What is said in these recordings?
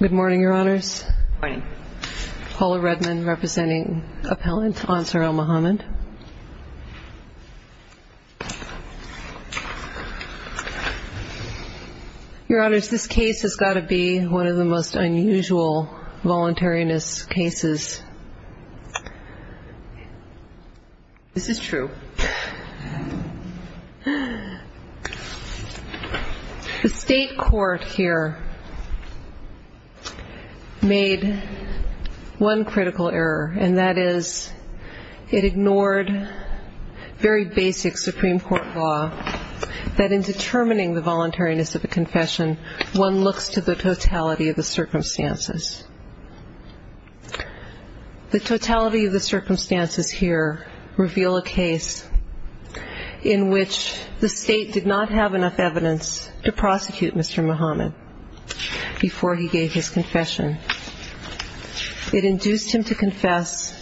Good morning, Your Honors. Paula Redmond representing Appellant Ansar al-Muhammad. Your Honors, this case has got to be one of the most unusual voluntariness cases. This is true. The state court here made one critical error, and that is it ignored very basic Supreme Court law that in determining the voluntariness of a confession, one looks to the totality of the circumstances. The totality of the circumstances here reveal a case in which the state did not have enough evidence to prosecute Mr. Muhammad. Before he gave his confession, it induced him to confess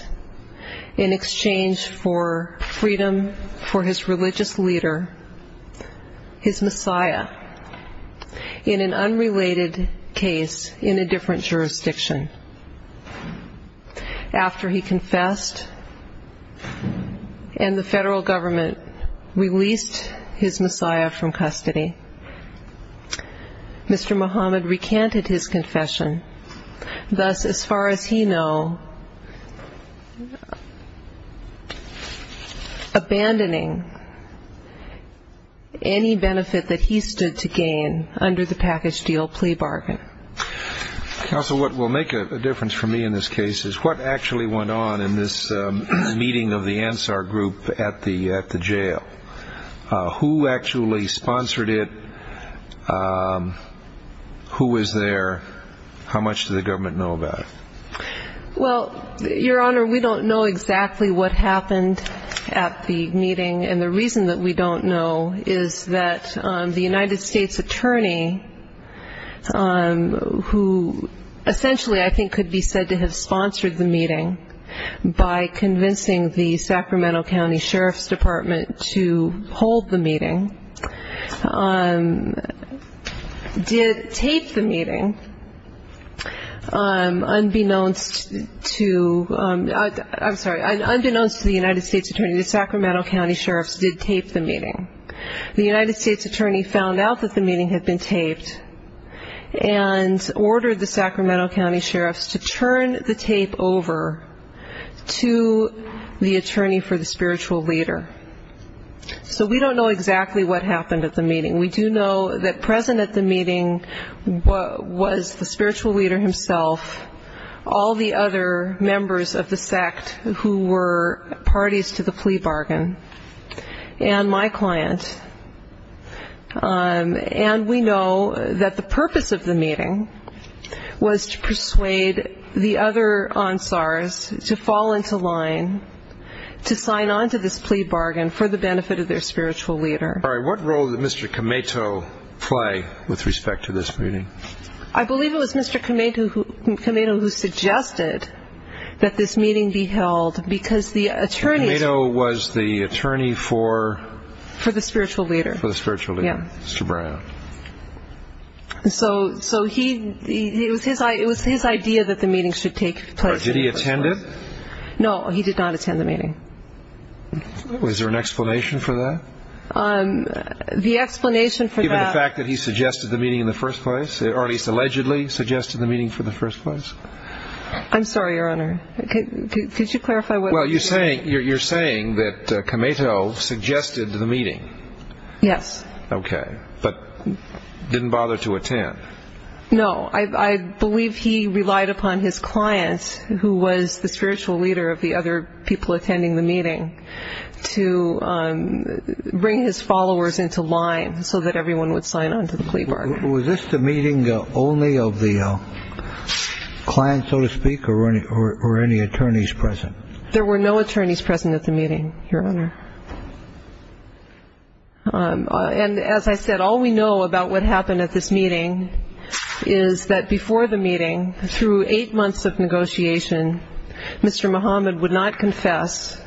in exchange for freedom for his religious leader, his Messiah, in an unrelated case in a different jurisdiction. After he confessed and the federal government released his Messiah from custody, Mr. Muhammad recanted his confession, thus, as far as he knew, abandoning any benefit that he stood to gain under the package deal plea bargain. Counsel, what will make a difference for me in this case is what actually went on in this meeting of the Ansar group at the jail. Who actually sponsored it? Who was there? How much did the government know about it? Well, Your Honor, we don't know exactly what happened at the meeting, and the reason that we don't know is that the United States attorney, who essentially I think could be said to have sponsored the meeting by convincing the Sacramento County Sheriff's Department to hold the meeting, did tape the meeting unbeknownst to the United States attorney, the Sacramento County Sheriff's did tape the meeting. The United States attorney found out that the meeting had been taped and ordered the Sacramento County Sheriff's to turn the tape over to the attorney for the spiritual leader. So we don't know exactly what happened at the meeting. We do know that present at the meeting was the spiritual leader himself, all the other members of the sect who were parties to the plea bargain, and my client. And we know that the purpose of the meeting was to persuade the other Ansars to fall into line, to sign on to this plea bargain, and to make a plea bargain. For the benefit of their spiritual leader. All right, what role did Mr. Cameto play with respect to this meeting? I believe it was Mr. Cameto who suggested that this meeting be held because the attorney... Cameto was the attorney for... For the spiritual leader. For the spiritual leader. Yeah. Mr. Brown. So he, it was his idea that the meeting should take place. Did he attend it? No, he did not attend the meeting. Was there an explanation for that? The explanation for that... Given the fact that he suggested the meeting in the first place, or at least allegedly suggested the meeting for the first place? I'm sorry, Your Honor. Could you clarify what... Well, you're saying that Cameto suggested the meeting. Yes. Okay. But didn't bother to attend. No, I believe he relied upon his client, who was the spiritual leader of the other people attending the meeting, to bring his followers into line so that everyone would sign on to the plea bargain. Was this the meeting only of the client, so to speak, or were any attorneys present? There were no attorneys present at the meeting, Your Honor. And as I said, all we know about what happened at this meeting is that before the meeting, through eight months of negotiation, Mr. Muhammad would not confess.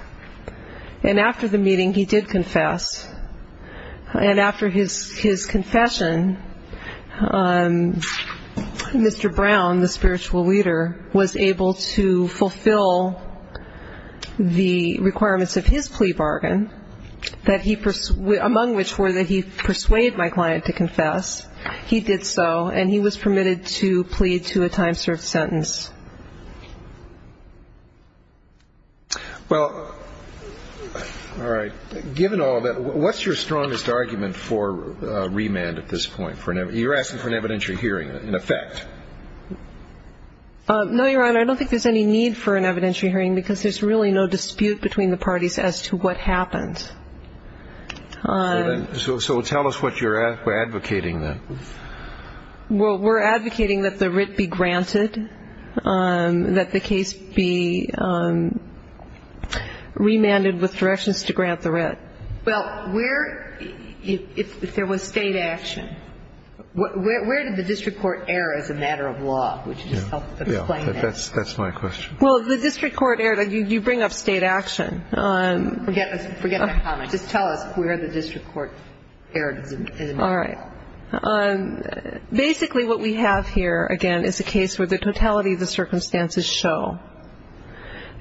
And after the meeting, he did confess. And after his confession, Mr. Brown, the spiritual leader, was able to fulfill the requirements of his plea bargain, among which were that he persuade my client to confess. He did so, and he was permitted to plead to a time-served sentence. Well, all right. Given all that, what's your strongest argument for remand at this point? You're asking for an evidentiary hearing, in effect. No, Your Honor. I don't think there's any need for an evidentiary hearing, because there's really no dispute between the parties as to what happened. So tell us what you're advocating, then. Well, we're advocating that the writ be granted, that the case be remanded with directions to grant the writ. Well, if there was State action, where did the district court err as a matter of law? Would you just help explain that? That's my question. Well, the district court erred. You bring up State action. Forget my comment. Just tell us where the district court erred as a matter of law. All right. Basically what we have here, again, is a case where the totality of the circumstances show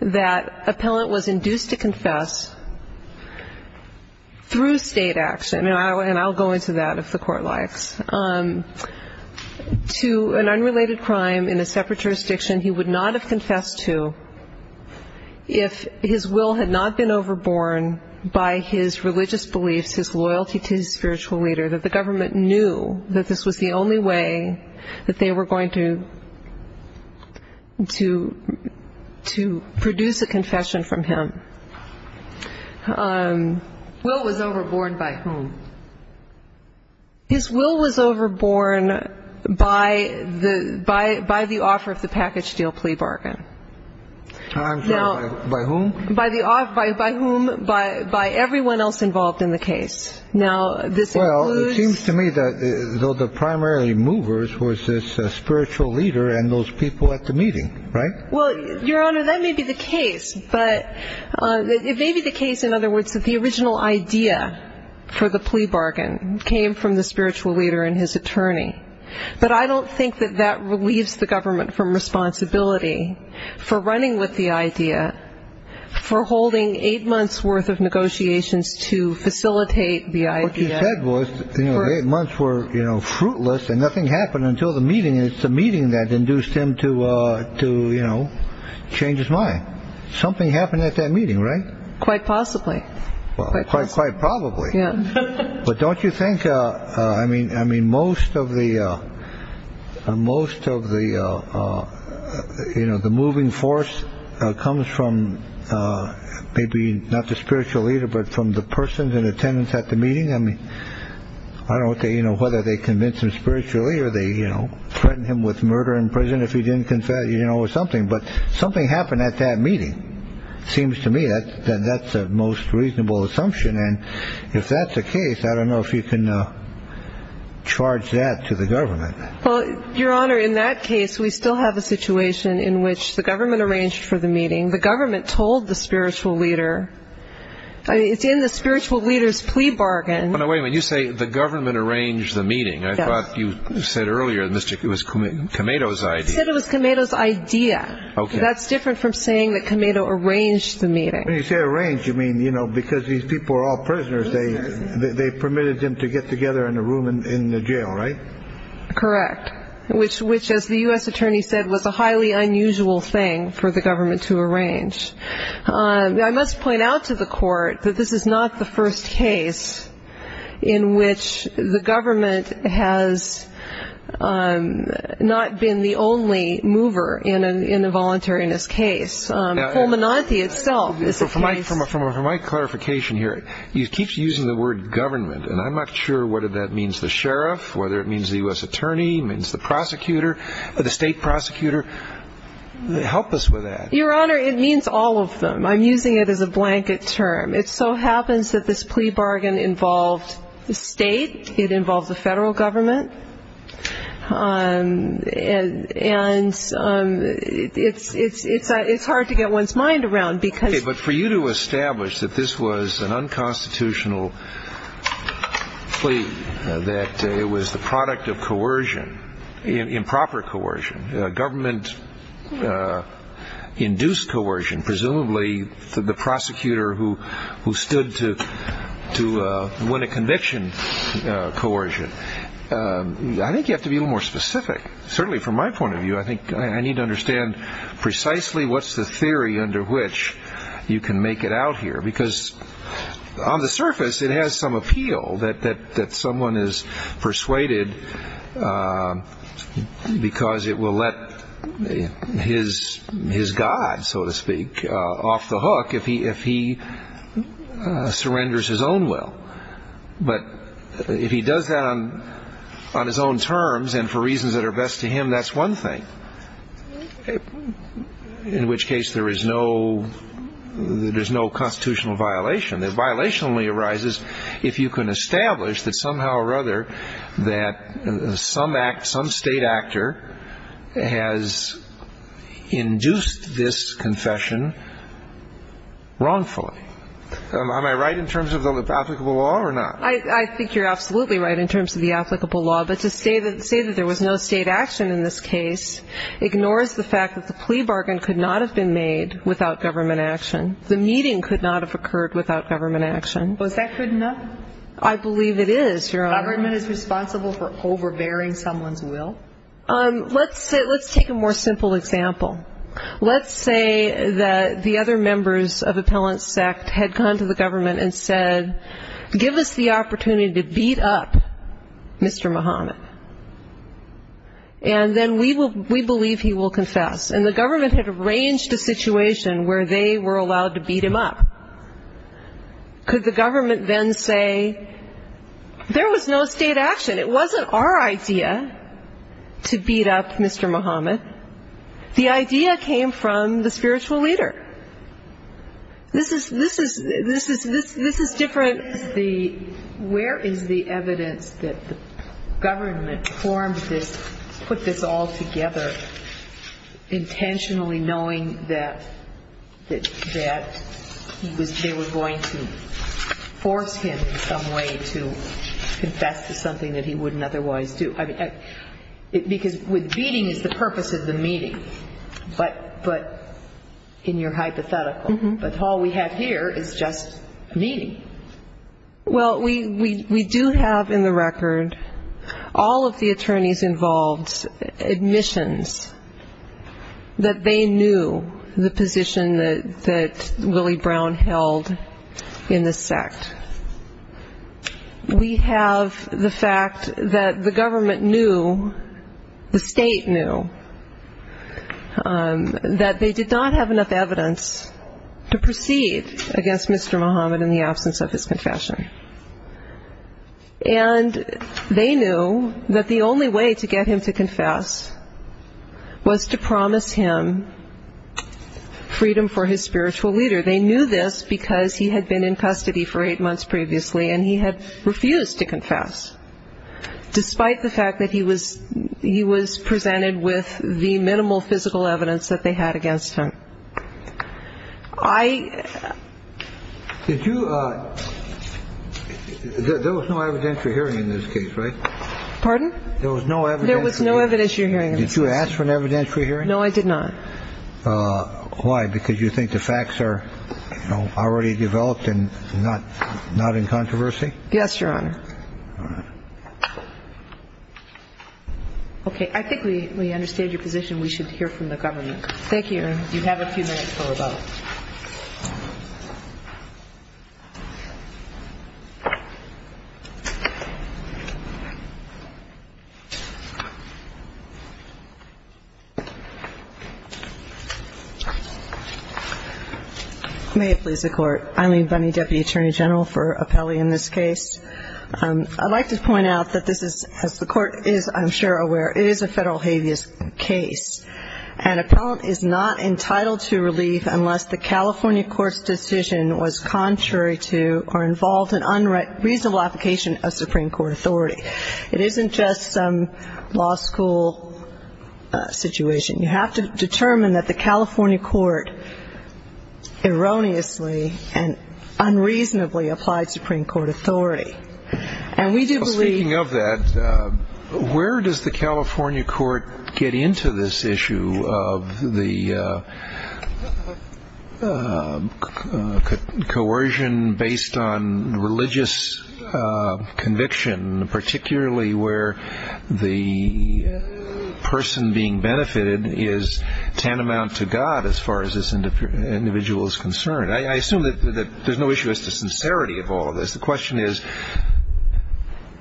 that appellant was induced to confess through State action, and I'll go into that if the Court likes, to an unrelated crime in a separate jurisdiction he would not have confessed to if his will had not been overborne by his religious beliefs, his loyalty to his spiritual leader, that the government knew that this was the only way that they were going to produce a confession from him. Will was overborne by whom? His will was overborne by the offer of the package deal plea bargain. By whom? By everyone else involved in the case. Well, it seems to me that though the primarily movers was this spiritual leader and those people at the meeting, right? Well, Your Honor, that may be the case. But it may be the case, in other words, that the original idea for the plea bargain came from the spiritual leader and his attorney. But I don't think that that relieves the government from responsibility for running with the idea, for holding eight months' worth of negotiations to facilitate the idea. What you said was the eight months were fruitless and nothing happened until the meeting, and it's the meeting that induced him to change his mind. Something happened at that meeting, right? Quite possibly. Quite probably. But don't you think, I mean, I mean, most of the most of the, you know, the moving force comes from maybe not the spiritual leader, but from the persons in attendance at the meeting. I mean, I don't know whether they convince him spiritually or they threaten him with murder in prison if he didn't confess, you know, or something. But something happened at that meeting. Seems to me that that's the most reasonable assumption. And if that's the case, I don't know if you can charge that to the government. Well, Your Honor, in that case, we still have a situation in which the government arranged for the meeting. The government told the spiritual leader. It's in the spiritual leader's plea bargain. No, no, wait a minute. You say the government arranged the meeting. I thought you said earlier it was Kamado's idea. I said it was Kamado's idea. Okay. That's different from saying that Kamado arranged the meeting. When you say arrange, you mean, you know, because these people are all prisoners, they permitted them to get together in a room in the jail, right? Correct. Which, as the U.S. attorney said, was a highly unusual thing for the government to arrange. I must point out to the court that this is not the first case in which the government has not been the only mover in a voluntariness case. From my clarification here, you keep using the word government, and I'm not sure whether that means the sheriff, whether it means the U.S. attorney, means the prosecutor, the state prosecutor. Help us with that. Your Honor, it means all of them. I'm using it as a blanket term. It so happens that this plea bargain involved the state, it involves the federal government, and it's hard to get one's mind around. Okay, but for you to establish that this was an unconstitutional plea, that it was the product of coercion, improper coercion, government-induced coercion, and presumably the prosecutor who stood to win a conviction coercion, I think you have to be a little more specific. Certainly from my point of view, I think I need to understand precisely what's the theory under which you can make it out here. Because on the surface, it has some appeal that someone is persuaded because it will let his god, so to speak, off the hook if he surrenders his own will. But if he does that on his own terms and for reasons that are best to him, that's one thing, in which case there is no constitutional violation. The violation only arises if you can establish that somehow or other that some state actor has induced this confession wrongfully. Am I right in terms of the applicable law or not? I think you're absolutely right in terms of the applicable law. But to say that there was no state action in this case ignores the fact that the plea bargain could not have been made without government action. The meeting could not have occurred without government action. Was that good enough? I believe it is, Your Honor. Government is responsible for overbearing someone's will? Let's take a more simple example. Let's say that the other members of Appellant's sect had gone to the government and said, give us the opportunity to beat up Mr. Muhammad, and then we believe he will confess. And the government had arranged a situation where they were allowed to beat him up. Could the government then say, there was no state action, it wasn't our idea to beat up Mr. Muhammad, the idea came from the spiritual leader. This is different. Where is the evidence that the government formed this, put this all together, intentionally knowing that they were going to force him in some way to confess to something that he wouldn't otherwise do? Because beating is the purpose of the meeting, but in your hypothetical. But all we have here is just a meeting. Well, we do have in the record all of the attorneys involved's admissions that they knew the position that Willie Brown held in the sect. We have the fact that the government knew, the state knew, that they did not have enough evidence to proceed against Mr. Muhammad in the absence of his confession. And they knew that the only way to get him to confess was to promise him freedom for his spiritual leader. They knew this because he had been in custody for eight months previously and he had refused to confess, despite the fact that he was presented with the minimal physical evidence that they had against him. I. Did you. There was no evidentiary hearing in this case, right? Pardon? There was no evidence. There was no evidence you're hearing. Did you ask for an evidentiary hearing? No, I did not. Why? Because you think the facts are already developed and not in controversy? Yes, Your Honor. All right. Okay. I think we understand your position. We should hear from the government. Thank you. You have a few minutes for rebuttal. May it please the Court. Eileen Bunney, Deputy Attorney General for Appellee in this case. I'd like to point out that this is, as the Court is, I'm sure, aware, it is a federal habeas case. An appellant is not entitled to relief unless the defendant is acquitted of a felony. And that is, the California court's decision was contrary to or involved in unreasonable application of Supreme Court authority. It isn't just some law school situation. You have to determine that the California court erroneously and unreasonably applied Supreme Court authority. And we do believe. Speaking of that, where does the California court get into this issue of the coercion based on religious conviction, particularly where the person being benefited is tantamount to God as far as this individual is concerned? I assume that there's no issue as to sincerity of all of this. The question is,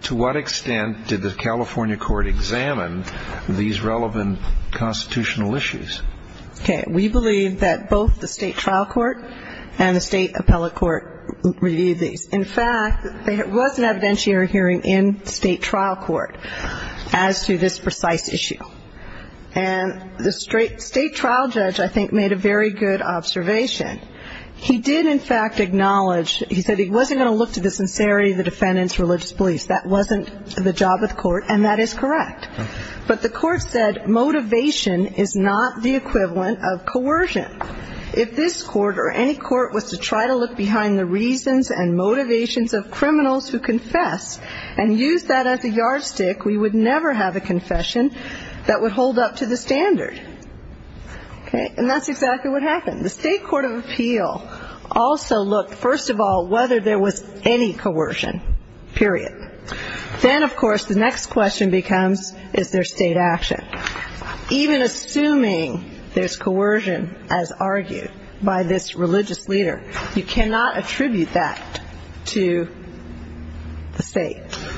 to what extent did the California court examine these relevant constitutional issues? Okay. We believe that both the state trial court and the state appellate court reviewed these. In fact, there was an evidentiary hearing in state trial court as to this precise issue. And the state trial judge, I think, made a very good observation. He did, in fact, acknowledge, he said he wasn't going to look to the sincerity of the defendant's religious beliefs. That wasn't the job of the court. And that is correct. But the court said motivation is not the equivalent of coercion. If this court or any court was to try to look behind the reasons and motivations of criminals who confess and use that as a yardstick, we would never have a confession that would hold up to the standard. Okay? And that's exactly what happened. The state court of appeal also looked, first of all, whether there was any coercion, period. Then, of course, the next question becomes, is there state action? Even assuming there's coercion as argued by this religious leader, you cannot attribute that to the state.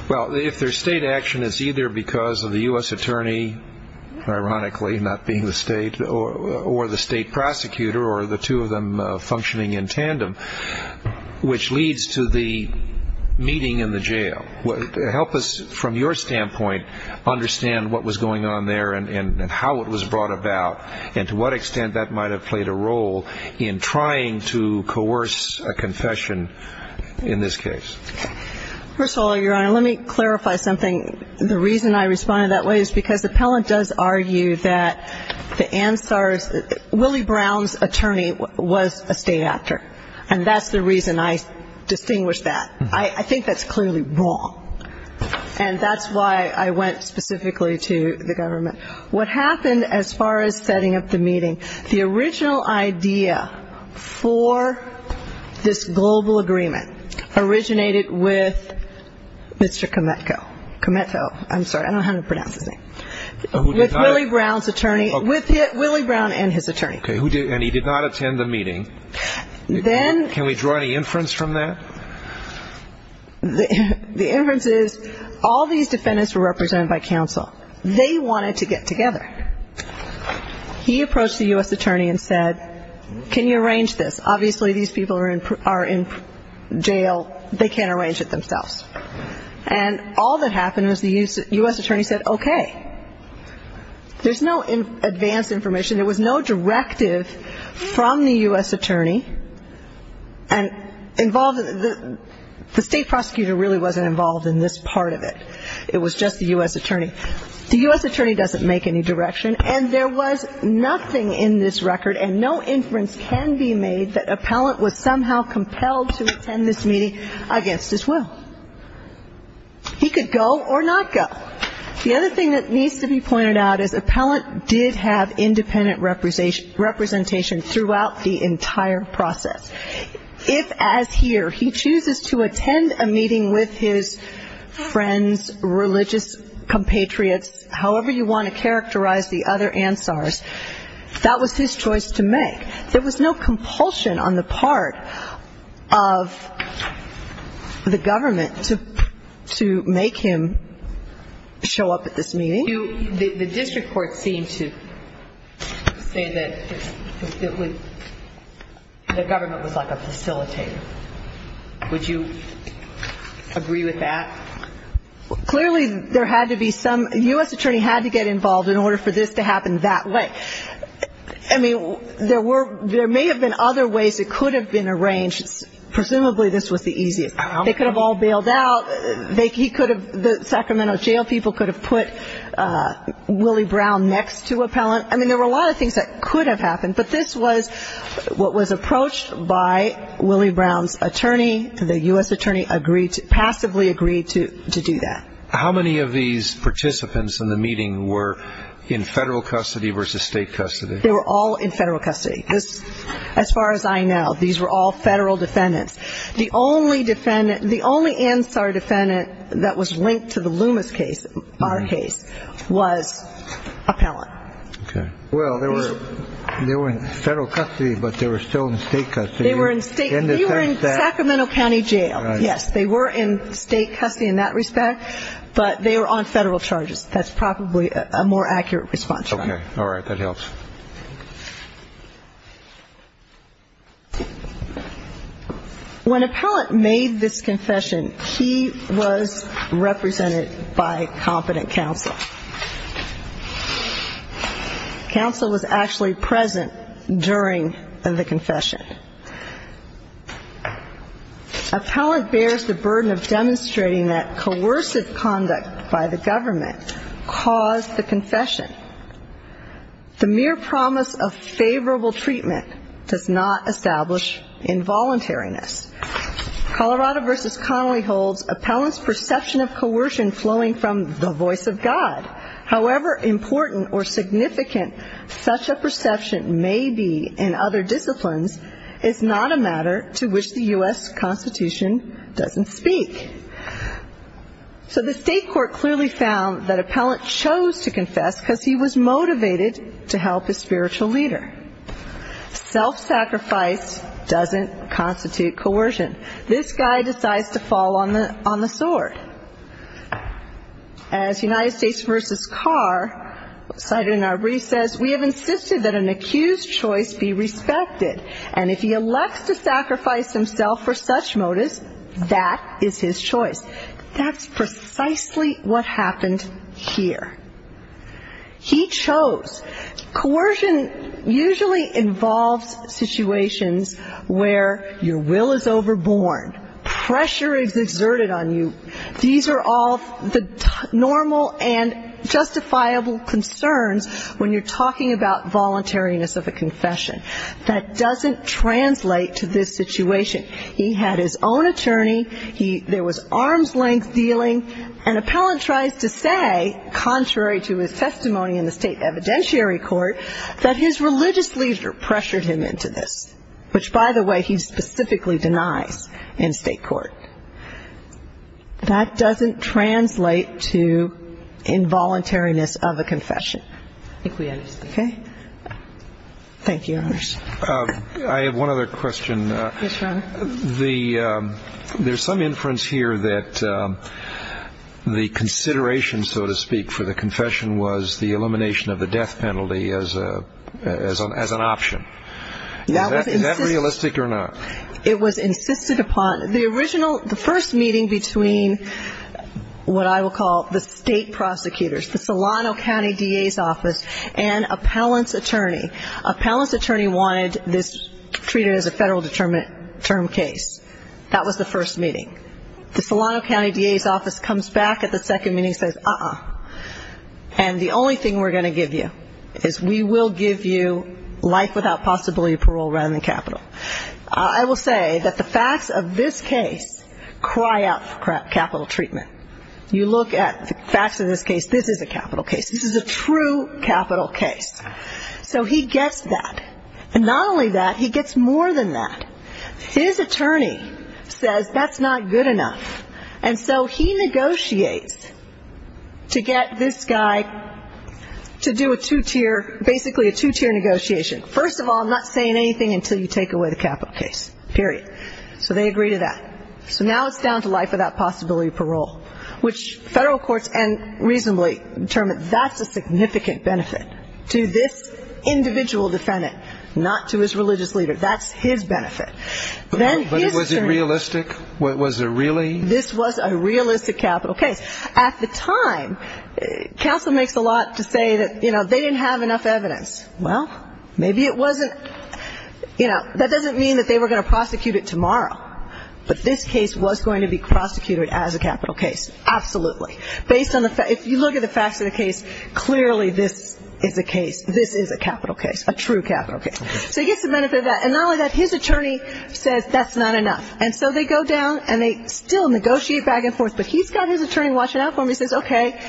Well, if there's state action, it's either because of the U.S. attorney, ironically, not being the state, or the state prosecutor or the two of them functioning in tandem, which leads to the meeting in the jail. Help us, from your standpoint, understand what was going on there and how it was brought about and to what extent that might have played a role in trying to coerce a confession in this case. First of all, Your Honor, let me clarify something. The reason I responded that way is because the appellant does argue that the answer is Willie Brown's attorney was a state actor, and that's the reason I distinguished that. I think that's clearly wrong, and that's why I went specifically to the government. What happened as far as setting up the meeting, the original idea for this global agreement originated with Mr. Kometko. Kometko, I'm sorry, I don't know how to pronounce his name. With Willie Brown's attorney, with Willie Brown and his attorney. Okay, and he did not attend the meeting. Can we draw any inference from that? The inference is all these defendants were represented by counsel. They wanted to get together. He approached the U.S. attorney and said, can you arrange this? Obviously these people are in jail. They can't arrange it themselves. And all that happened was the U.S. attorney said, okay. There's no advanced information. There was no directive from the U.S. attorney. And the state prosecutor really wasn't involved in this part of it. It was just the U.S. attorney. The U.S. attorney doesn't make any direction, and there was nothing in this record, and no inference can be made that appellant was somehow compelled to attend this meeting against his will. He could go or not go. The other thing that needs to be pointed out is appellant did have independent representation throughout the entire process. If, as here, he chooses to attend a meeting with his friends, religious compatriots, however you want to characterize the other Ansars, that was his choice to make. There was no compulsion on the part of the government to make him show up at this meeting. The district court seemed to say that the government was like a facilitator. Would you agree with that? Clearly there had to be some ‑‑ the U.S. attorney had to get involved in order for this to happen that way. I mean, there may have been other ways it could have been arranged. Presumably this was the easiest. They could have all bailed out. He could have ‑‑ the Sacramento jail people could have put Willie Brown next to appellant. I mean, there were a lot of things that could have happened, but this was what was approached by Willie Brown's attorney. He, the U.S. attorney, agreed to ‑‑ passively agreed to do that. How many of these participants in the meeting were in federal custody versus state custody? They were all in federal custody. As far as I know, these were all federal defendants. The only defendant ‑‑ the only Ansar defendant that was linked to the Loomis case, our case, was appellant. Okay. Well, they were in federal custody, but they were still in state custody. They were in state ‑‑ they were in Sacramento County jail. Yes, they were in state custody in that respect, but they were on federal charges. That's probably a more accurate response. Okay. All right. That helps. When appellant made this confession, he was represented by competent counsel. Counsel was actually present during the confession. Appellant bears the burden of demonstrating that coercive conduct by the government caused the confession. The mere promise of favorable treatment does not establish involuntariness. Colorado versus Connolly holds appellant's perception of coercion flowing from the voice of God. However important or significant such a perception may be in other disciplines, it's not a matter to which the U.S. Constitution doesn't speak. So the state court clearly found that appellant chose to confess because he was motivated to help his spiritual leader. Self‑sacrifice doesn't constitute coercion. This guy decides to fall on the sword. As United States versus Carr cited in our brief says, we have insisted that an accused's choice be respected, and if he elects to sacrifice himself for such motives, that is his choice. That's precisely what happened here. He chose. Coercion usually involves situations where your will is overborne, pressure is exerted on you. These are all the normal and justifiable concerns when you're talking about voluntariness of a confession. That doesn't translate to this situation. He had his own attorney. There was arm's length dealing. An appellant tries to say, contrary to his testimony in the state evidentiary court, that his religious leader pressured him into this, which, by the way, he specifically denies in state court. That doesn't translate to involuntariness of a confession. I think we understand. Okay. Thank you, Your Honors. I have one other question. Yes, Your Honor. There's some inference here that the consideration, so to speak, for the confession was the elimination of the death penalty as an option. Is that realistic or not? It was insisted upon. The original, the first meeting between what I will call the state prosecutors, the Solano County DA's office and appellant's attorney, appellant's attorney wanted this treated as a federal determined term case. That was the first meeting. The Solano County DA's office comes back at the second meeting and says, uh-uh, and the only thing we're going to give you is we will give you life without possibility of parole rather than capital. I will say that the facts of this case cry out for capital treatment. You look at the facts of this case, this is a capital case. This is a true capital case. So he gets that. And not only that, he gets more than that. His attorney says that's not good enough. And so he negotiates to get this guy to do a two-tier, basically a two-tier negotiation. First of all, I'm not saying anything until you take away the capital case, period. So they agree to that. So now it's down to life without possibility of parole, which federal courts and reasonably determine that's a significant benefit to this individual defendant, not to his religious leader. That's his benefit. But was it realistic? Was it really? This was a realistic capital case. At the time, counsel makes a lot to say that, you know, they didn't have enough evidence. Well, maybe it wasn't. You know, that doesn't mean that they were going to prosecute it tomorrow. But this case was going to be prosecuted as a capital case, absolutely. If you look at the facts of the case, clearly this is a case. This is a capital case, a true capital case. So he gets the benefit of that. And not only that, his attorney says that's not enough. And so they go down and they still negotiate back and forth. But he's got his attorney watching out for him. He says, okay,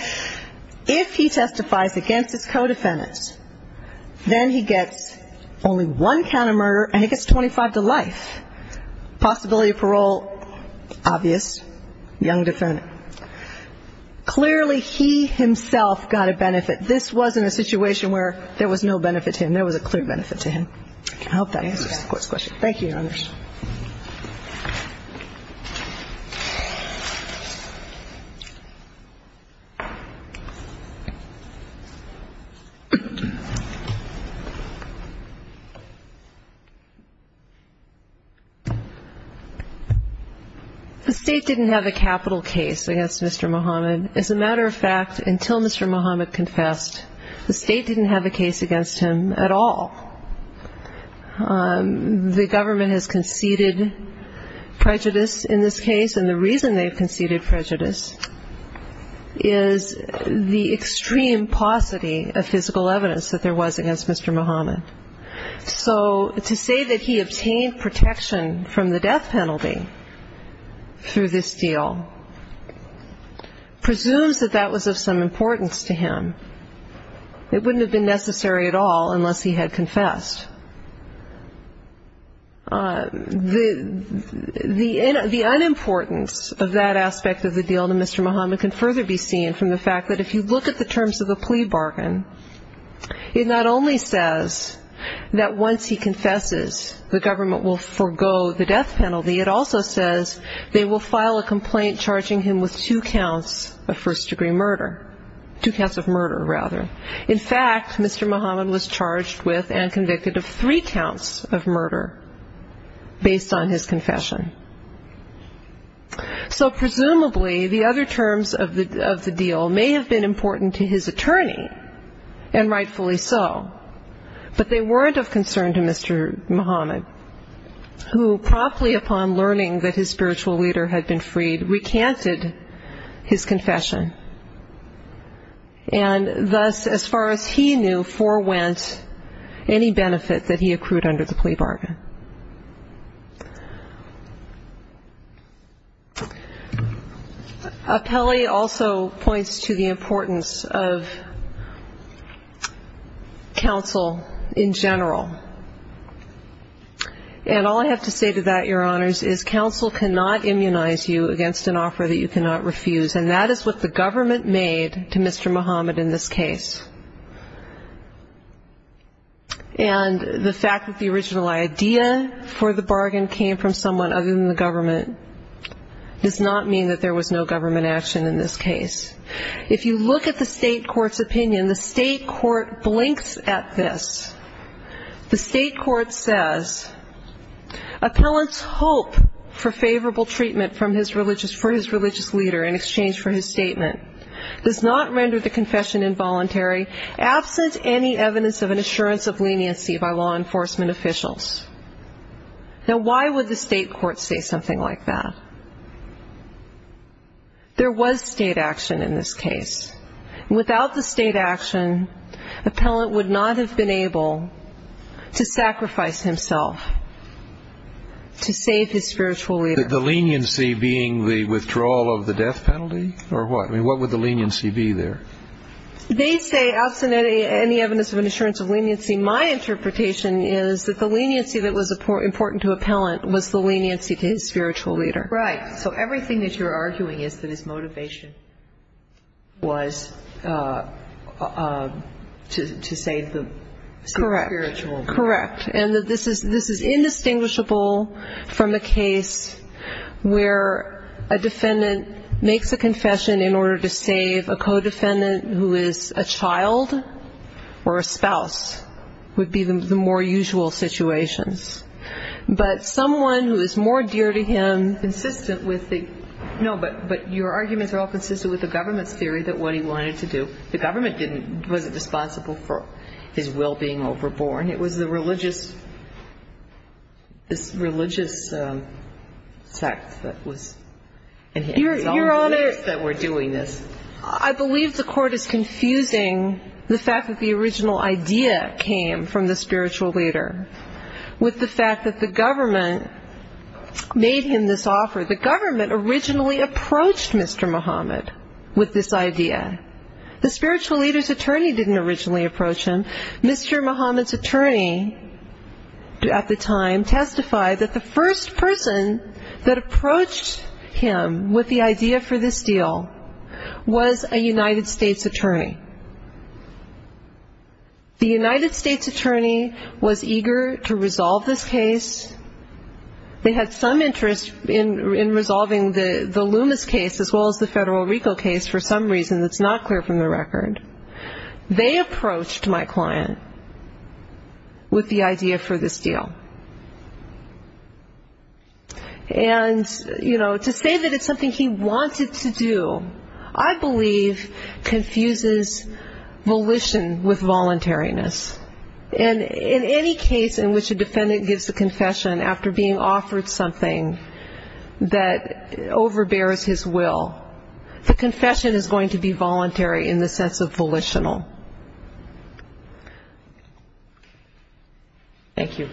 if he testifies against his co-defendant, then he gets only one count of murder and he gets 25 to life. Possibility of parole, obvious, young defendant. Clearly he himself got a benefit. This wasn't a situation where there was no benefit to him. There was a clear benefit to him. I hope that answers the Court's question. Thank you, Your Honors. The State didn't have a capital case against Mr. Mohamed. As a matter of fact, until Mr. Mohamed confessed, the State didn't have a case against him at all. And the reason they've conceded prejudice in this case, and the reason they've conceded prejudice, is the extreme paucity of physical evidence that there was against Mr. Mohamed. So to say that he obtained protection from the death penalty through this deal presumes that that was of some importance to him. It wouldn't have been necessary at all unless he had confessed. The unimportance of that aspect of the deal to Mr. Mohamed can further be seen from the fact that if you look at the terms of the plea bargain, it not only says that once he confesses, the government will forego the death penalty, it also says they will file a complaint charging him with two counts of first-degree murder, two counts of murder, rather. In fact, Mr. Mohamed was charged with and convicted of three counts of murder based on his confession. So presumably, the other terms of the deal may have been important to his attorney, and rightfully so, but they weren't of concern to Mr. Mohamed, who promptly upon learning that his spiritual leader had been freed, recanted his confession. And thus, as far as he knew, forewent any benefit that he accrued under the plea bargain. Appelli also points to the importance of counsel in general. And all I have to say to that, Your Honors, is counsel cannot immunize you against an offer that you cannot refuse, and that is what the government made to Mr. Mohamed in this case. And the fact that the original idea for the bargain came from someone other than the government does not mean that there was no government action in this case. If you look at the state court's opinion, the state court blinks at this. The state court says, Appellant's hope for favorable treatment for his religious leader in exchange for his statement does not render the confession involuntary, absent any evidence of an assurance of leniency by law enforcement officials. Now, why would the state court say something like that? There was state action in this case. Without the state action, Appellant would not have been able to sacrifice himself to save his spiritual leader. The leniency being the withdrawal of the death penalty, or what? I mean, what would the leniency be there? They say absent any evidence of an assurance of leniency. My interpretation is that the leniency that was important to Appellant was the leniency to his spiritual leader. Right. So everything that you're arguing is that his motivation was to save the spiritual leader. Correct. And that this is indistinguishable from a case where a defendant makes a confession in order to save a co-defendant who is a child or a spouse, would be the more usual situations. But someone who is more dear to him, consistent with the ‑‑ No, but your arguments are all consistent with the government's theory that what he wanted to do, the government wasn't responsible for his will being overborne. It was the religious sect that was in his office that were doing this. Your Honor, I believe the court is confusing the fact that the original idea came from the spiritual leader with the fact that the government made him this offer. The government originally approached Mr. Muhammad with this idea. The spiritual leader's attorney didn't originally approach him. Mr. Muhammad's attorney at the time testified that the first person that approached him with the idea for this deal was a United States attorney. The United States attorney was eager to resolve this case. They had some interest in resolving the Loomis case as well as the Federal Rico case for some reason that's not clear from the record. They approached my client with the idea for this deal. And, you know, to say that it's something he wanted to do, I believe, confuses volition with voluntariness. And in any case in which a defendant gives a confession after being offered something that overbears his will, the confession is going to be voluntary in the sense of volitional. Thank you.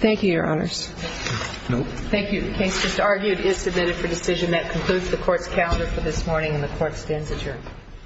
Thank you, Your Honors. Thank you. The case just argued is submitted for decision. That concludes the Court's calendar for this morning, and the Court stands adjourned.